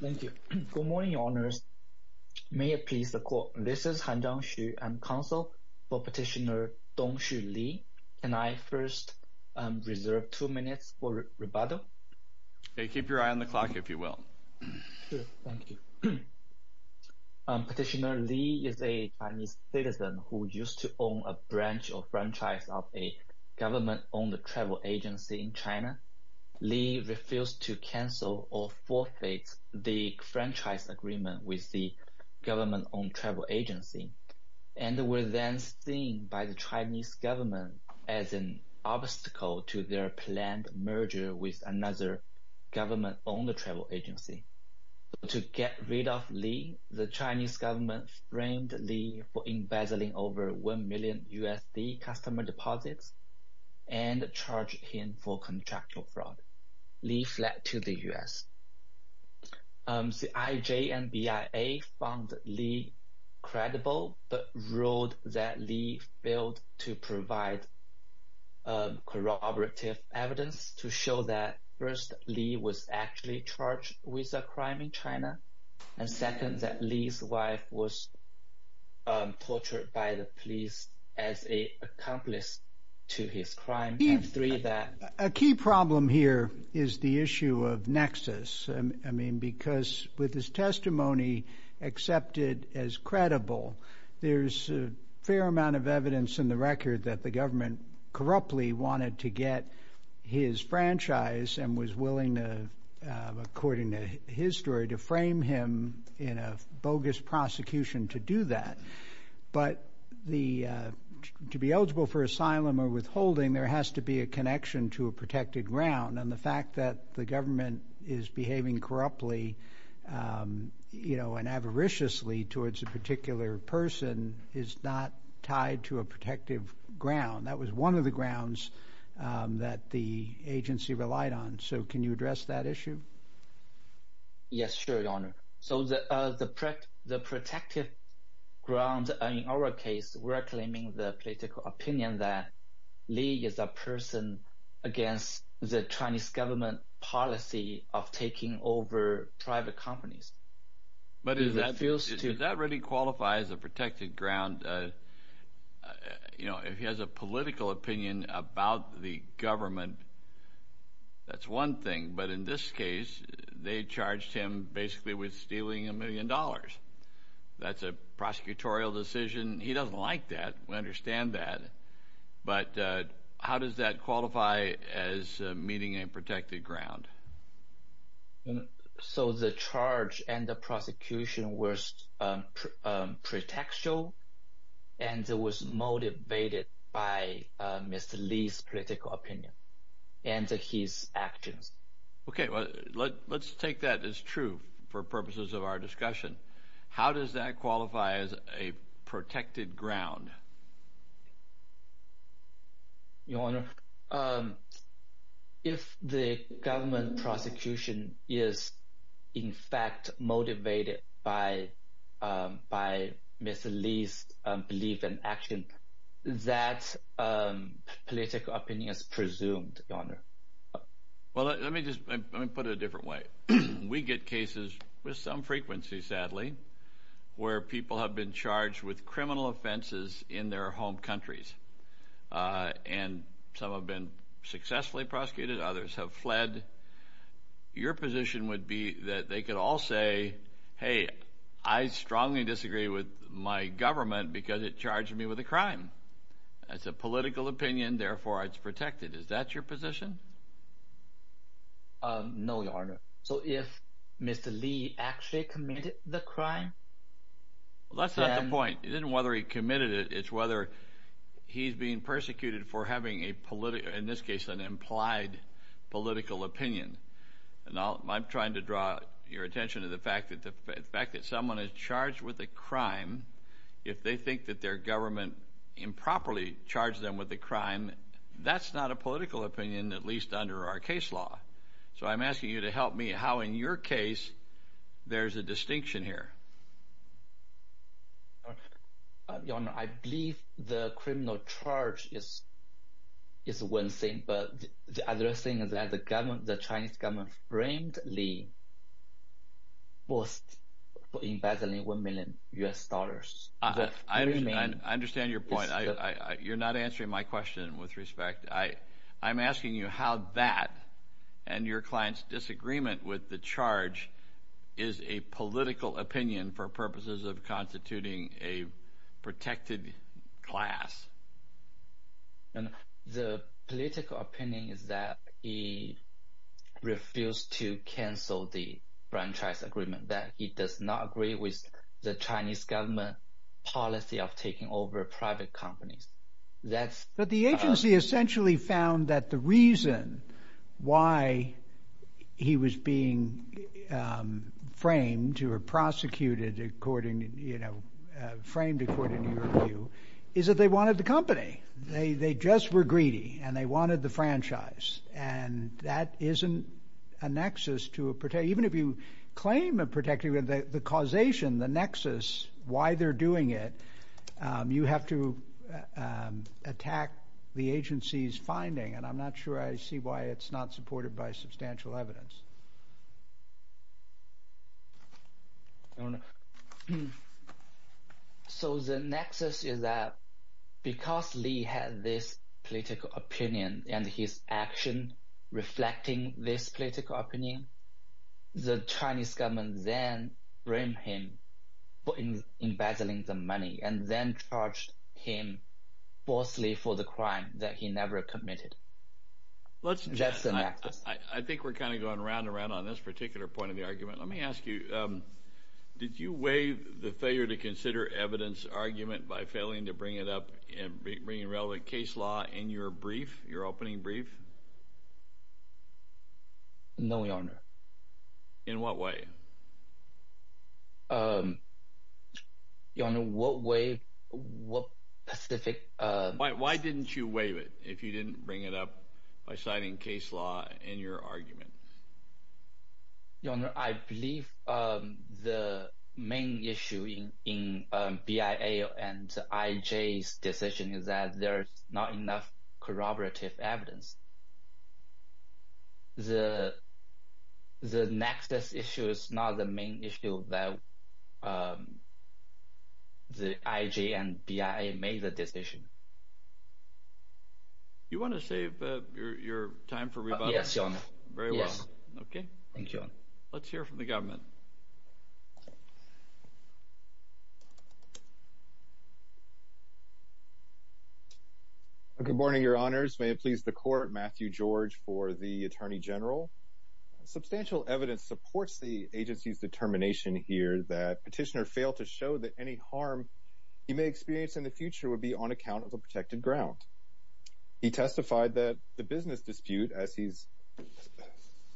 Good morning, Your Honors. May it please the Court, this is Han Zhangxu, I am counsel for Petitioner Dongxu Li. Can I first reserve two minutes for rebuttal? Keep your eye on the clock, if you will. Sure, thank you. Petitioner Li is a Chinese citizen who used to own a branch or franchise of a government-owned travel agency in China. Li refused to cancel or forfeit the franchise agreement with the government-owned travel agency, and was then seen by the Chinese government as an obstacle to their planned merger with another government-owned travel agency. To get rid of Li, the Chinese government framed Li for embezzling over 1 million USD customer and charged him for contractual fraud. Li fled to the U.S. The IJ and BIA found Li credible, but ruled that Li failed to provide corroborative evidence to show that first, Li was actually charged with a crime in China, and second, that Li's wife was tortured by the police as an accomplice to his crime, and three, that... A key problem here is the issue of nexus. I mean, because with his testimony accepted as credible, there's a fair amount of evidence in the record that the government corruptly wanted to get his franchise and was willing to, according to his story, to frame him in a bogus prosecution to do that. But to be eligible for asylum or withholding, there has to be a connection to a protected ground, and the fact that the government is behaving corruptly and avariciously towards a particular person is not tied to a protective ground. That was one of the grounds that the agency relied on. So can you address that issue? Yes, sure, Your Honor. So the protective ground in our case, we're claiming the political opinion that Li is a person against the Chinese government policy of taking over private companies. But does that really qualify as a protected ground? You know, if he has a political opinion about the government, that's one thing. But in this case, they charged him basically with stealing a million dollars. That's a prosecutorial decision. He doesn't like that. We understand that. But how does that qualify as meeting a protected ground? So the charge and the prosecution was pretextual and was motivated by Mr. Li's political opinion and his actions. Okay, let's take that as true for purposes of our discussion. How does that qualify as a protected ground? Your Honor, if the government prosecution is in fact motivated by Mr. Li's belief and action, that political opinion is presumed, Your Honor. Well, let me put it a different way. We get cases with some frequency, sadly, where people have been charged with criminal offenses in their home countries. And some have been successfully prosecuted. Others have fled. Your position would be that they could all say, hey, I strongly disagree with my government because it charged me with a crime. That's a political opinion. Therefore, it's protected. Is that your position? No, Your Honor. So if Mr. Li actually committed the crime? That's not the point. It isn't whether he committed it. It's whether he's being persecuted for having, in this case, an implied political opinion. And I'm trying to draw your attention to the fact that the fact that someone is charged with a crime, if they think that their government improperly charged them with a crime, that's not a political opinion, at least under our case law. So I'm asking you to help me how, in your case, there's a distinction here. Your Honor, I believe the criminal charge is one thing. But the other thing is that the Chinese government framed Li for embezzling one million U.S. dollars. I understand your point. You're not answering my question with respect. I'm asking you how that and your client's disagreement with the charge is a political opinion for purposes of constituting a protected class. The political opinion is that he refused to cancel the franchise agreement, that he does not agree with the Chinese government policy of taking over private companies. But the agency essentially found that the reason why he was being framed or prosecuted, framed according to your view, is that they wanted the company. They just were greedy, and they wanted the franchise. And that isn't a nexus to a – even if you claim a protected – the causation, the nexus, why they're doing it, you have to attack the agency's finding. And I'm not sure I see why it's not supported by substantial evidence. I don't know. So the nexus is that because Li had this political opinion and his action reflecting this political opinion, the Chinese government then framed him for embezzling the money and then charged him falsely for the crime that he never committed. That's the nexus. I think we're kind of going round and round on this particular point of the argument. Let me ask you, did you waive the failure to consider evidence argument by failing to bring it up and bringing relevant case law in your brief, your opening brief? No, Your Honor. In what way? Your Honor, what way, what specific – Why didn't you waive it if you didn't bring it up by citing case law in your argument? Your Honor, I believe the main issue in BIA and IJ's decision is that there's not enough corroborative evidence. The nexus issue is not the main issue that the IJ and BIA made the decision. You want to save your time for rebuttal? Yes, Your Honor. Very well. Yes. Okay. Thank you, Your Honor. Let's hear from the government. Good morning, Your Honors. May it please the Court, Matthew George for the Attorney General. Substantial evidence supports the agency's determination here that Petitioner failed to show that any harm he may experience in the future would be on account of the protected ground. He testified that the business dispute, as he's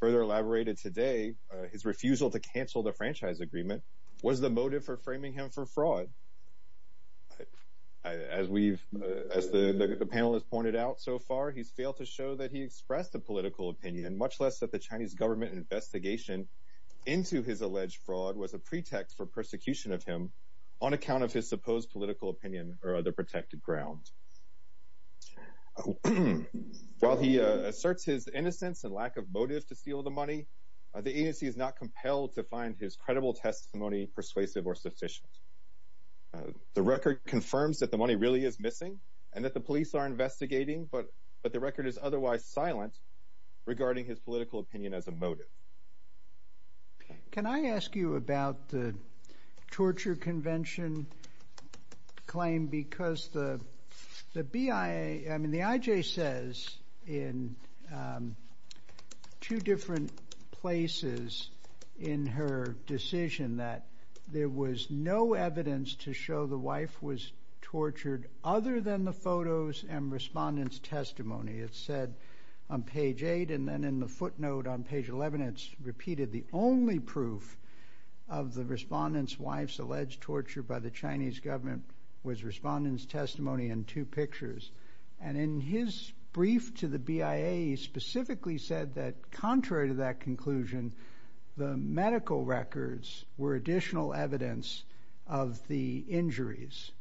further elaborated today, his refusal to cancel the franchise agreement was the motive for framing him for fraud. As we've – as the panel has pointed out so far, he's failed to show that he expressed a political opinion, much less that the Chinese government investigation into his alleged fraud was a pretext for persecution of him on account of his supposed political opinion or other protected ground. While he asserts his innocence and lack of motive to steal the money, the agency is not compelled to find his credible testimony persuasive or sufficient. The record confirms that the money really is missing and that the police are investigating, but the record is otherwise silent regarding his political opinion as a motive. Can I ask you about the torture convention claim? Because the BIA – I mean, the IJ says in two different places in her decision that there was no evidence to show the wife was tortured other than the photos and respondents' testimony. It said on page 8, and then in the footnote on page 11, it's repeated the only proof of the respondent's wife's alleged torture by the Chinese government was respondent's testimony and two pictures. And in his brief to the BIA, he specifically said that contrary to that conclusion, the medical records were additional evidence of the injuries.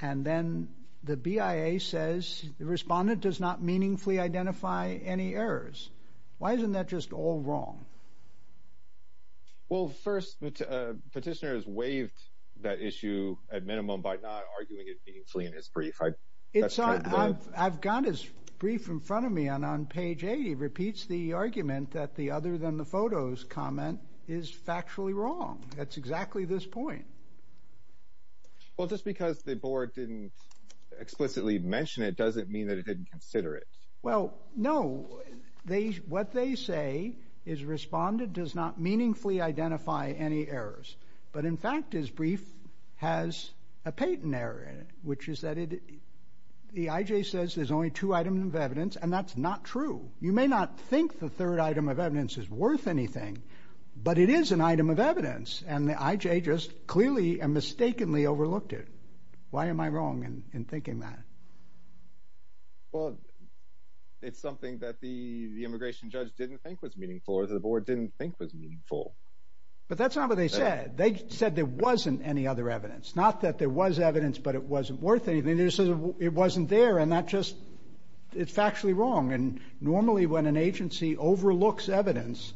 And then the BIA says the respondent does not meaningfully identify any errors. Why isn't that just all wrong? Well, first, petitioners waived that issue at minimum by not arguing it meaningfully in his brief. I've got his brief in front of me, and on page 80, he repeats the argument that the other than the photos comment is factually wrong. That's exactly this point. Well, just because the board didn't explicitly mention it doesn't mean that it didn't consider it. Well, no. What they say is respondent does not meaningfully identify any errors. But, in fact, his brief has a patent error in it, which is that the IJ says there's only two items of evidence, and that's not true. You may not think the third item of evidence is worth anything, but it is an item of evidence, and the IJ just clearly and mistakenly overlooked it. Why am I wrong in thinking that? Well, it's something that the immigration judge didn't think was meaningful, or the board didn't think was meaningful. But that's not what they said. They said there wasn't any other evidence, not that there was evidence but it wasn't worth anything. They just said it wasn't there, and that just is factually wrong. And normally when an agency overlooks evidence,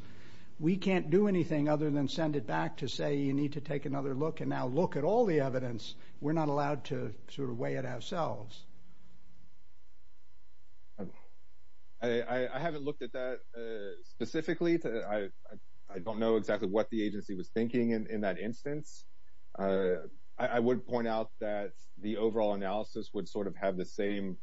we can't do anything other than send it back to say you need to take another look and now look at all the evidence. We're not allowed to sort of weigh it ourselves. I haven't looked at that specifically. I don't know exactly what the agency was thinking in that instance. I would point out that the overall analysis would sort of have the same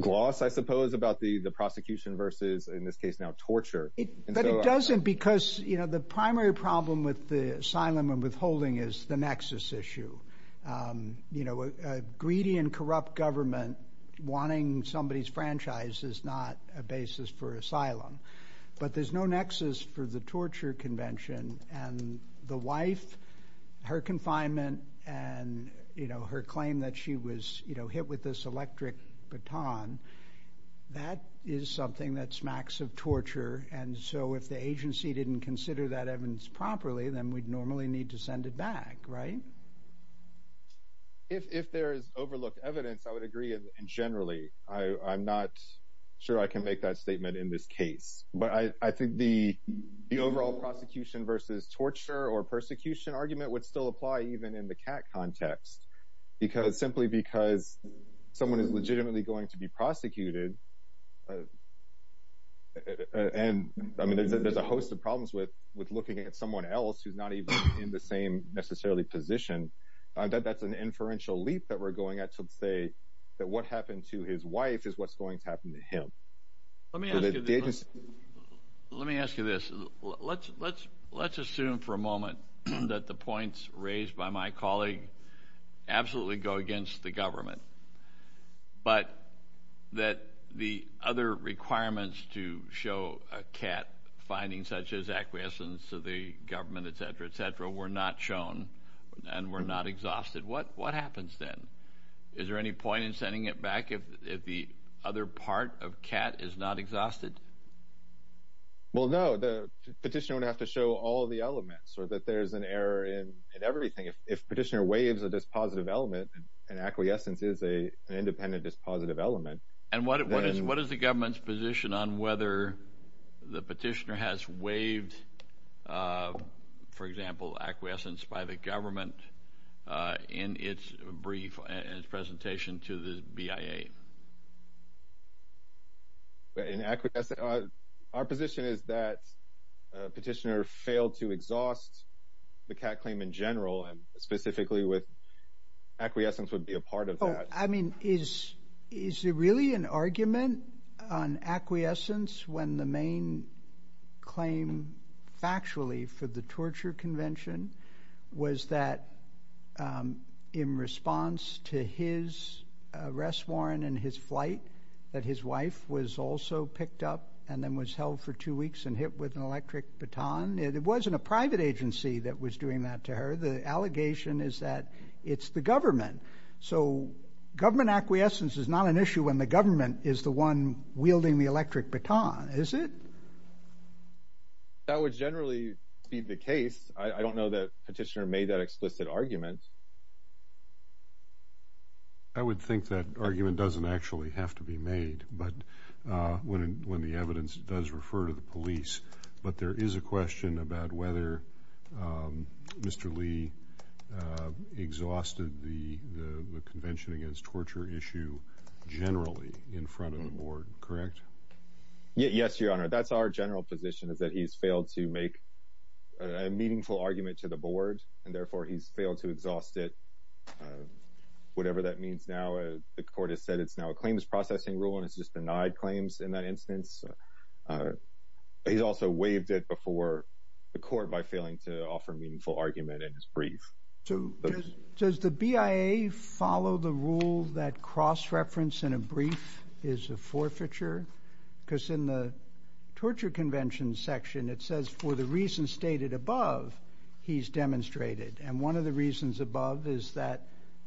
gloss, I suppose, about the prosecution versus, in this case now, torture. But it doesn't because the primary problem with the asylum and withholding is the nexus issue. A greedy and corrupt government wanting somebody's franchise is not a basis for asylum. But there's no nexus for the torture convention, and the wife, her confinement, and her claim that she was hit with this electric baton, that is something that smacks of torture. And so if the agency didn't consider that evidence properly, then we'd normally need to send it back, right? If there is overlooked evidence, I would agree generally. I'm not sure I can make that statement in this case. But I think the overall prosecution versus torture or persecution argument would still apply even in the CAT context, simply because someone is legitimately going to be prosecuted. And, I mean, there's a host of problems with looking at someone else who's not even in the same necessarily position. That's an inferential leap that we're going at to say that what happened to his wife is what's going to happen to him. Let me ask you this. Let's assume for a moment that the points raised by my colleague absolutely go against the government, but that the other requirements to show a CAT finding, such as acquiescence to the government, et cetera, et cetera, were not shown and were not exhausted. What happens then? Is there any point in sending it back if the other part of CAT is not exhausted? Well, no. The petitioner would have to show all the elements so that there's an error in everything. If a petitioner waives a dispositive element, an acquiescence is an independent dispositive element. And what is the government's position on whether the petitioner has waived, for example, acquiescence by the government in its brief and its presentation to the BIA? Our position is that petitioner failed to exhaust the CAT claim in general, and specifically with acquiescence would be a part of that. I mean, is there really an argument on acquiescence when the main claim factually for the torture convention was that in response to his arrest warrant and his flight, that his wife was also picked up and then was held for two weeks and hit with an electric baton? It wasn't a private agency that was doing that to her. The allegation is that it's the government. So government acquiescence is not an issue when the government is the one wielding the electric baton, is it? That would generally be the case. I don't know that petitioner made that explicit argument. I would think that argument doesn't actually have to be made when the evidence does refer to the police. But there is a question about whether Mr. Lee exhausted the convention against torture issue generally in front of the board, correct? Yes, Your Honor, that's our general position, is that he's failed to make a meaningful argument to the board, and therefore he's failed to exhaust it. Whatever that means now, the court has said it's now a claims processing rule and it's just denied claims in that instance. He's also waived it before the court by failing to offer a meaningful argument in his brief. Does the BIA follow the rule that cross-reference in a brief is a forfeiture? Because in the torture convention section, it says for the reasons stated above, he's demonstrated. And one of the reasons above is that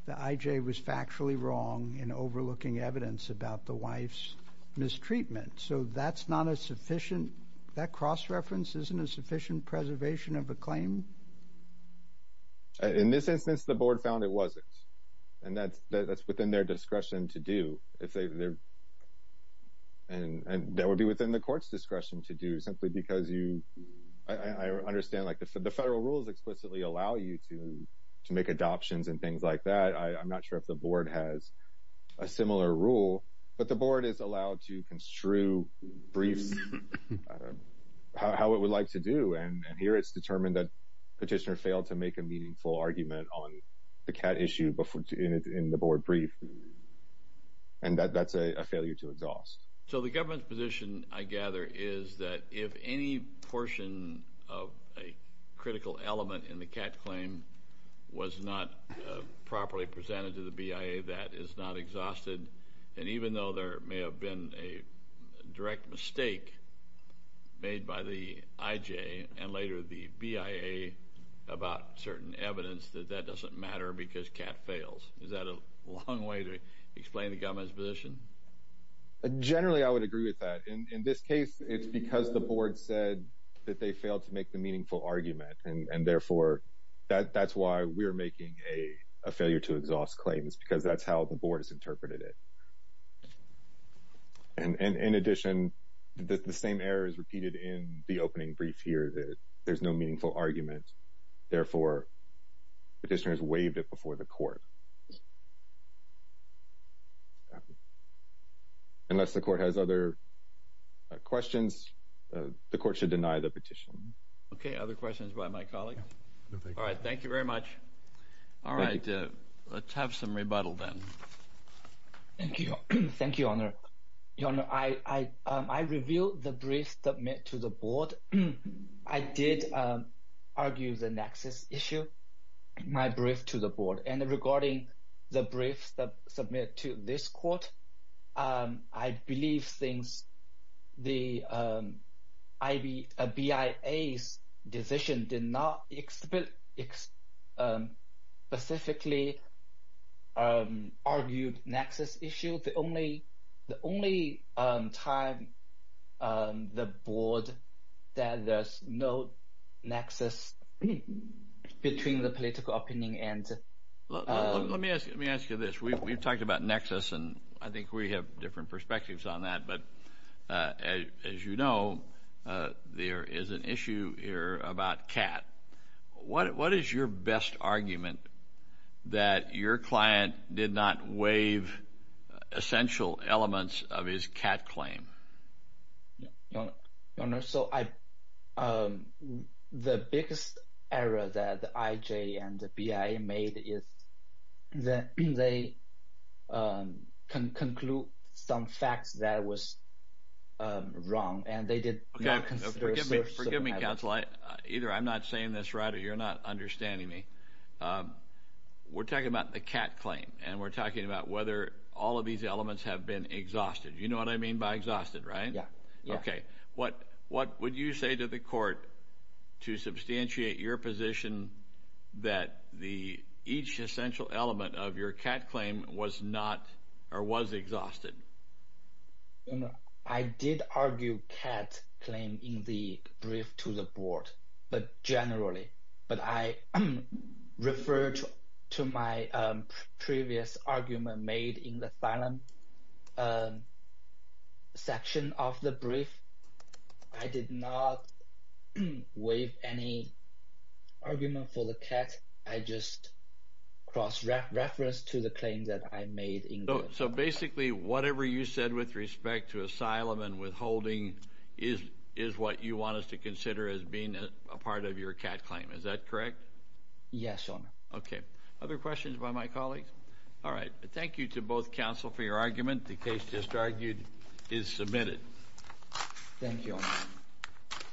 the IJ was factually wrong in overlooking evidence about the wife's mistreatment. So that's not a sufficient – that cross-reference isn't a sufficient preservation of a claim? In this instance, the board found it wasn't. And that's within their discretion to do. And that would be within the court's discretion to do, simply because you – I understand, like, the federal rules explicitly allow you to make adoptions and things like that. I'm not sure if the board has a similar rule. But the board is allowed to construe briefs how it would like to do. And here it's determined that Petitioner failed to make a meaningful argument on the cat issue in the board brief. And that's a failure to exhaust. So the government's position, I gather, is that if any portion of a critical element in the cat claim was not properly presented to the BIA that is not exhausted, then even though there may have been a direct mistake made by the IJ and later the BIA about certain evidence, that that doesn't matter because cat fails. Is that a long way to explain the government's position? Generally, I would agree with that. In this case, it's because the board said that they failed to make the meaningful argument. And therefore, that's why we're making a failure to exhaust claim. It's because that's how the board has interpreted it. And in addition, the same error is repeated in the opening brief here. There's no meaningful argument. Therefore, Petitioner has waived it before the court. Unless the court has other questions, the court should deny the petition. Okay. Other questions by my colleague? No, thank you. All right. Thank you very much. All right. Let's have some rebuttal then. Thank you, Your Honor. Your Honor, I review the brief submitted to the board. I did argue the nexus issue, my brief to the board. And regarding the brief submitted to this court, I believe since the BIA's decision did not specifically argue nexus issue, the only time the board said there's no nexus between the political opinion and— Let me ask you this. We've talked about nexus, and I think we have different perspectives on that. But as you know, there is an issue here about CAT. What is your best argument that your client did not waive essential elements of his CAT claim? Your Honor, so the biggest error that the IJ and the BIA made is that they conclude some facts that was wrong, and they did not consider— Okay. Forgive me, counsel. Either I'm not saying this right or you're not understanding me. We're talking about the CAT claim, and we're talking about whether all of these elements have been exhausted. You know what I mean by exhausted, right? Yeah. Okay. What would you say to the court to substantiate your position that each essential element of your CAT claim was not or was exhausted? Your Honor, I did argue CAT claim in the brief to the board, but generally. But I referred to my previous argument made in the asylum section of the brief. I did not waive any argument for the CAT. I just cross-referenced to the claim that I made in the— So basically whatever you said with respect to asylum and withholding is what you want us to consider as being a part of your CAT claim. Is that correct? Yes, Your Honor. Okay. Other questions by my colleagues? All right. Thank you to both counsel for your argument. The case just argued is submitted. Thank you, Your Honor.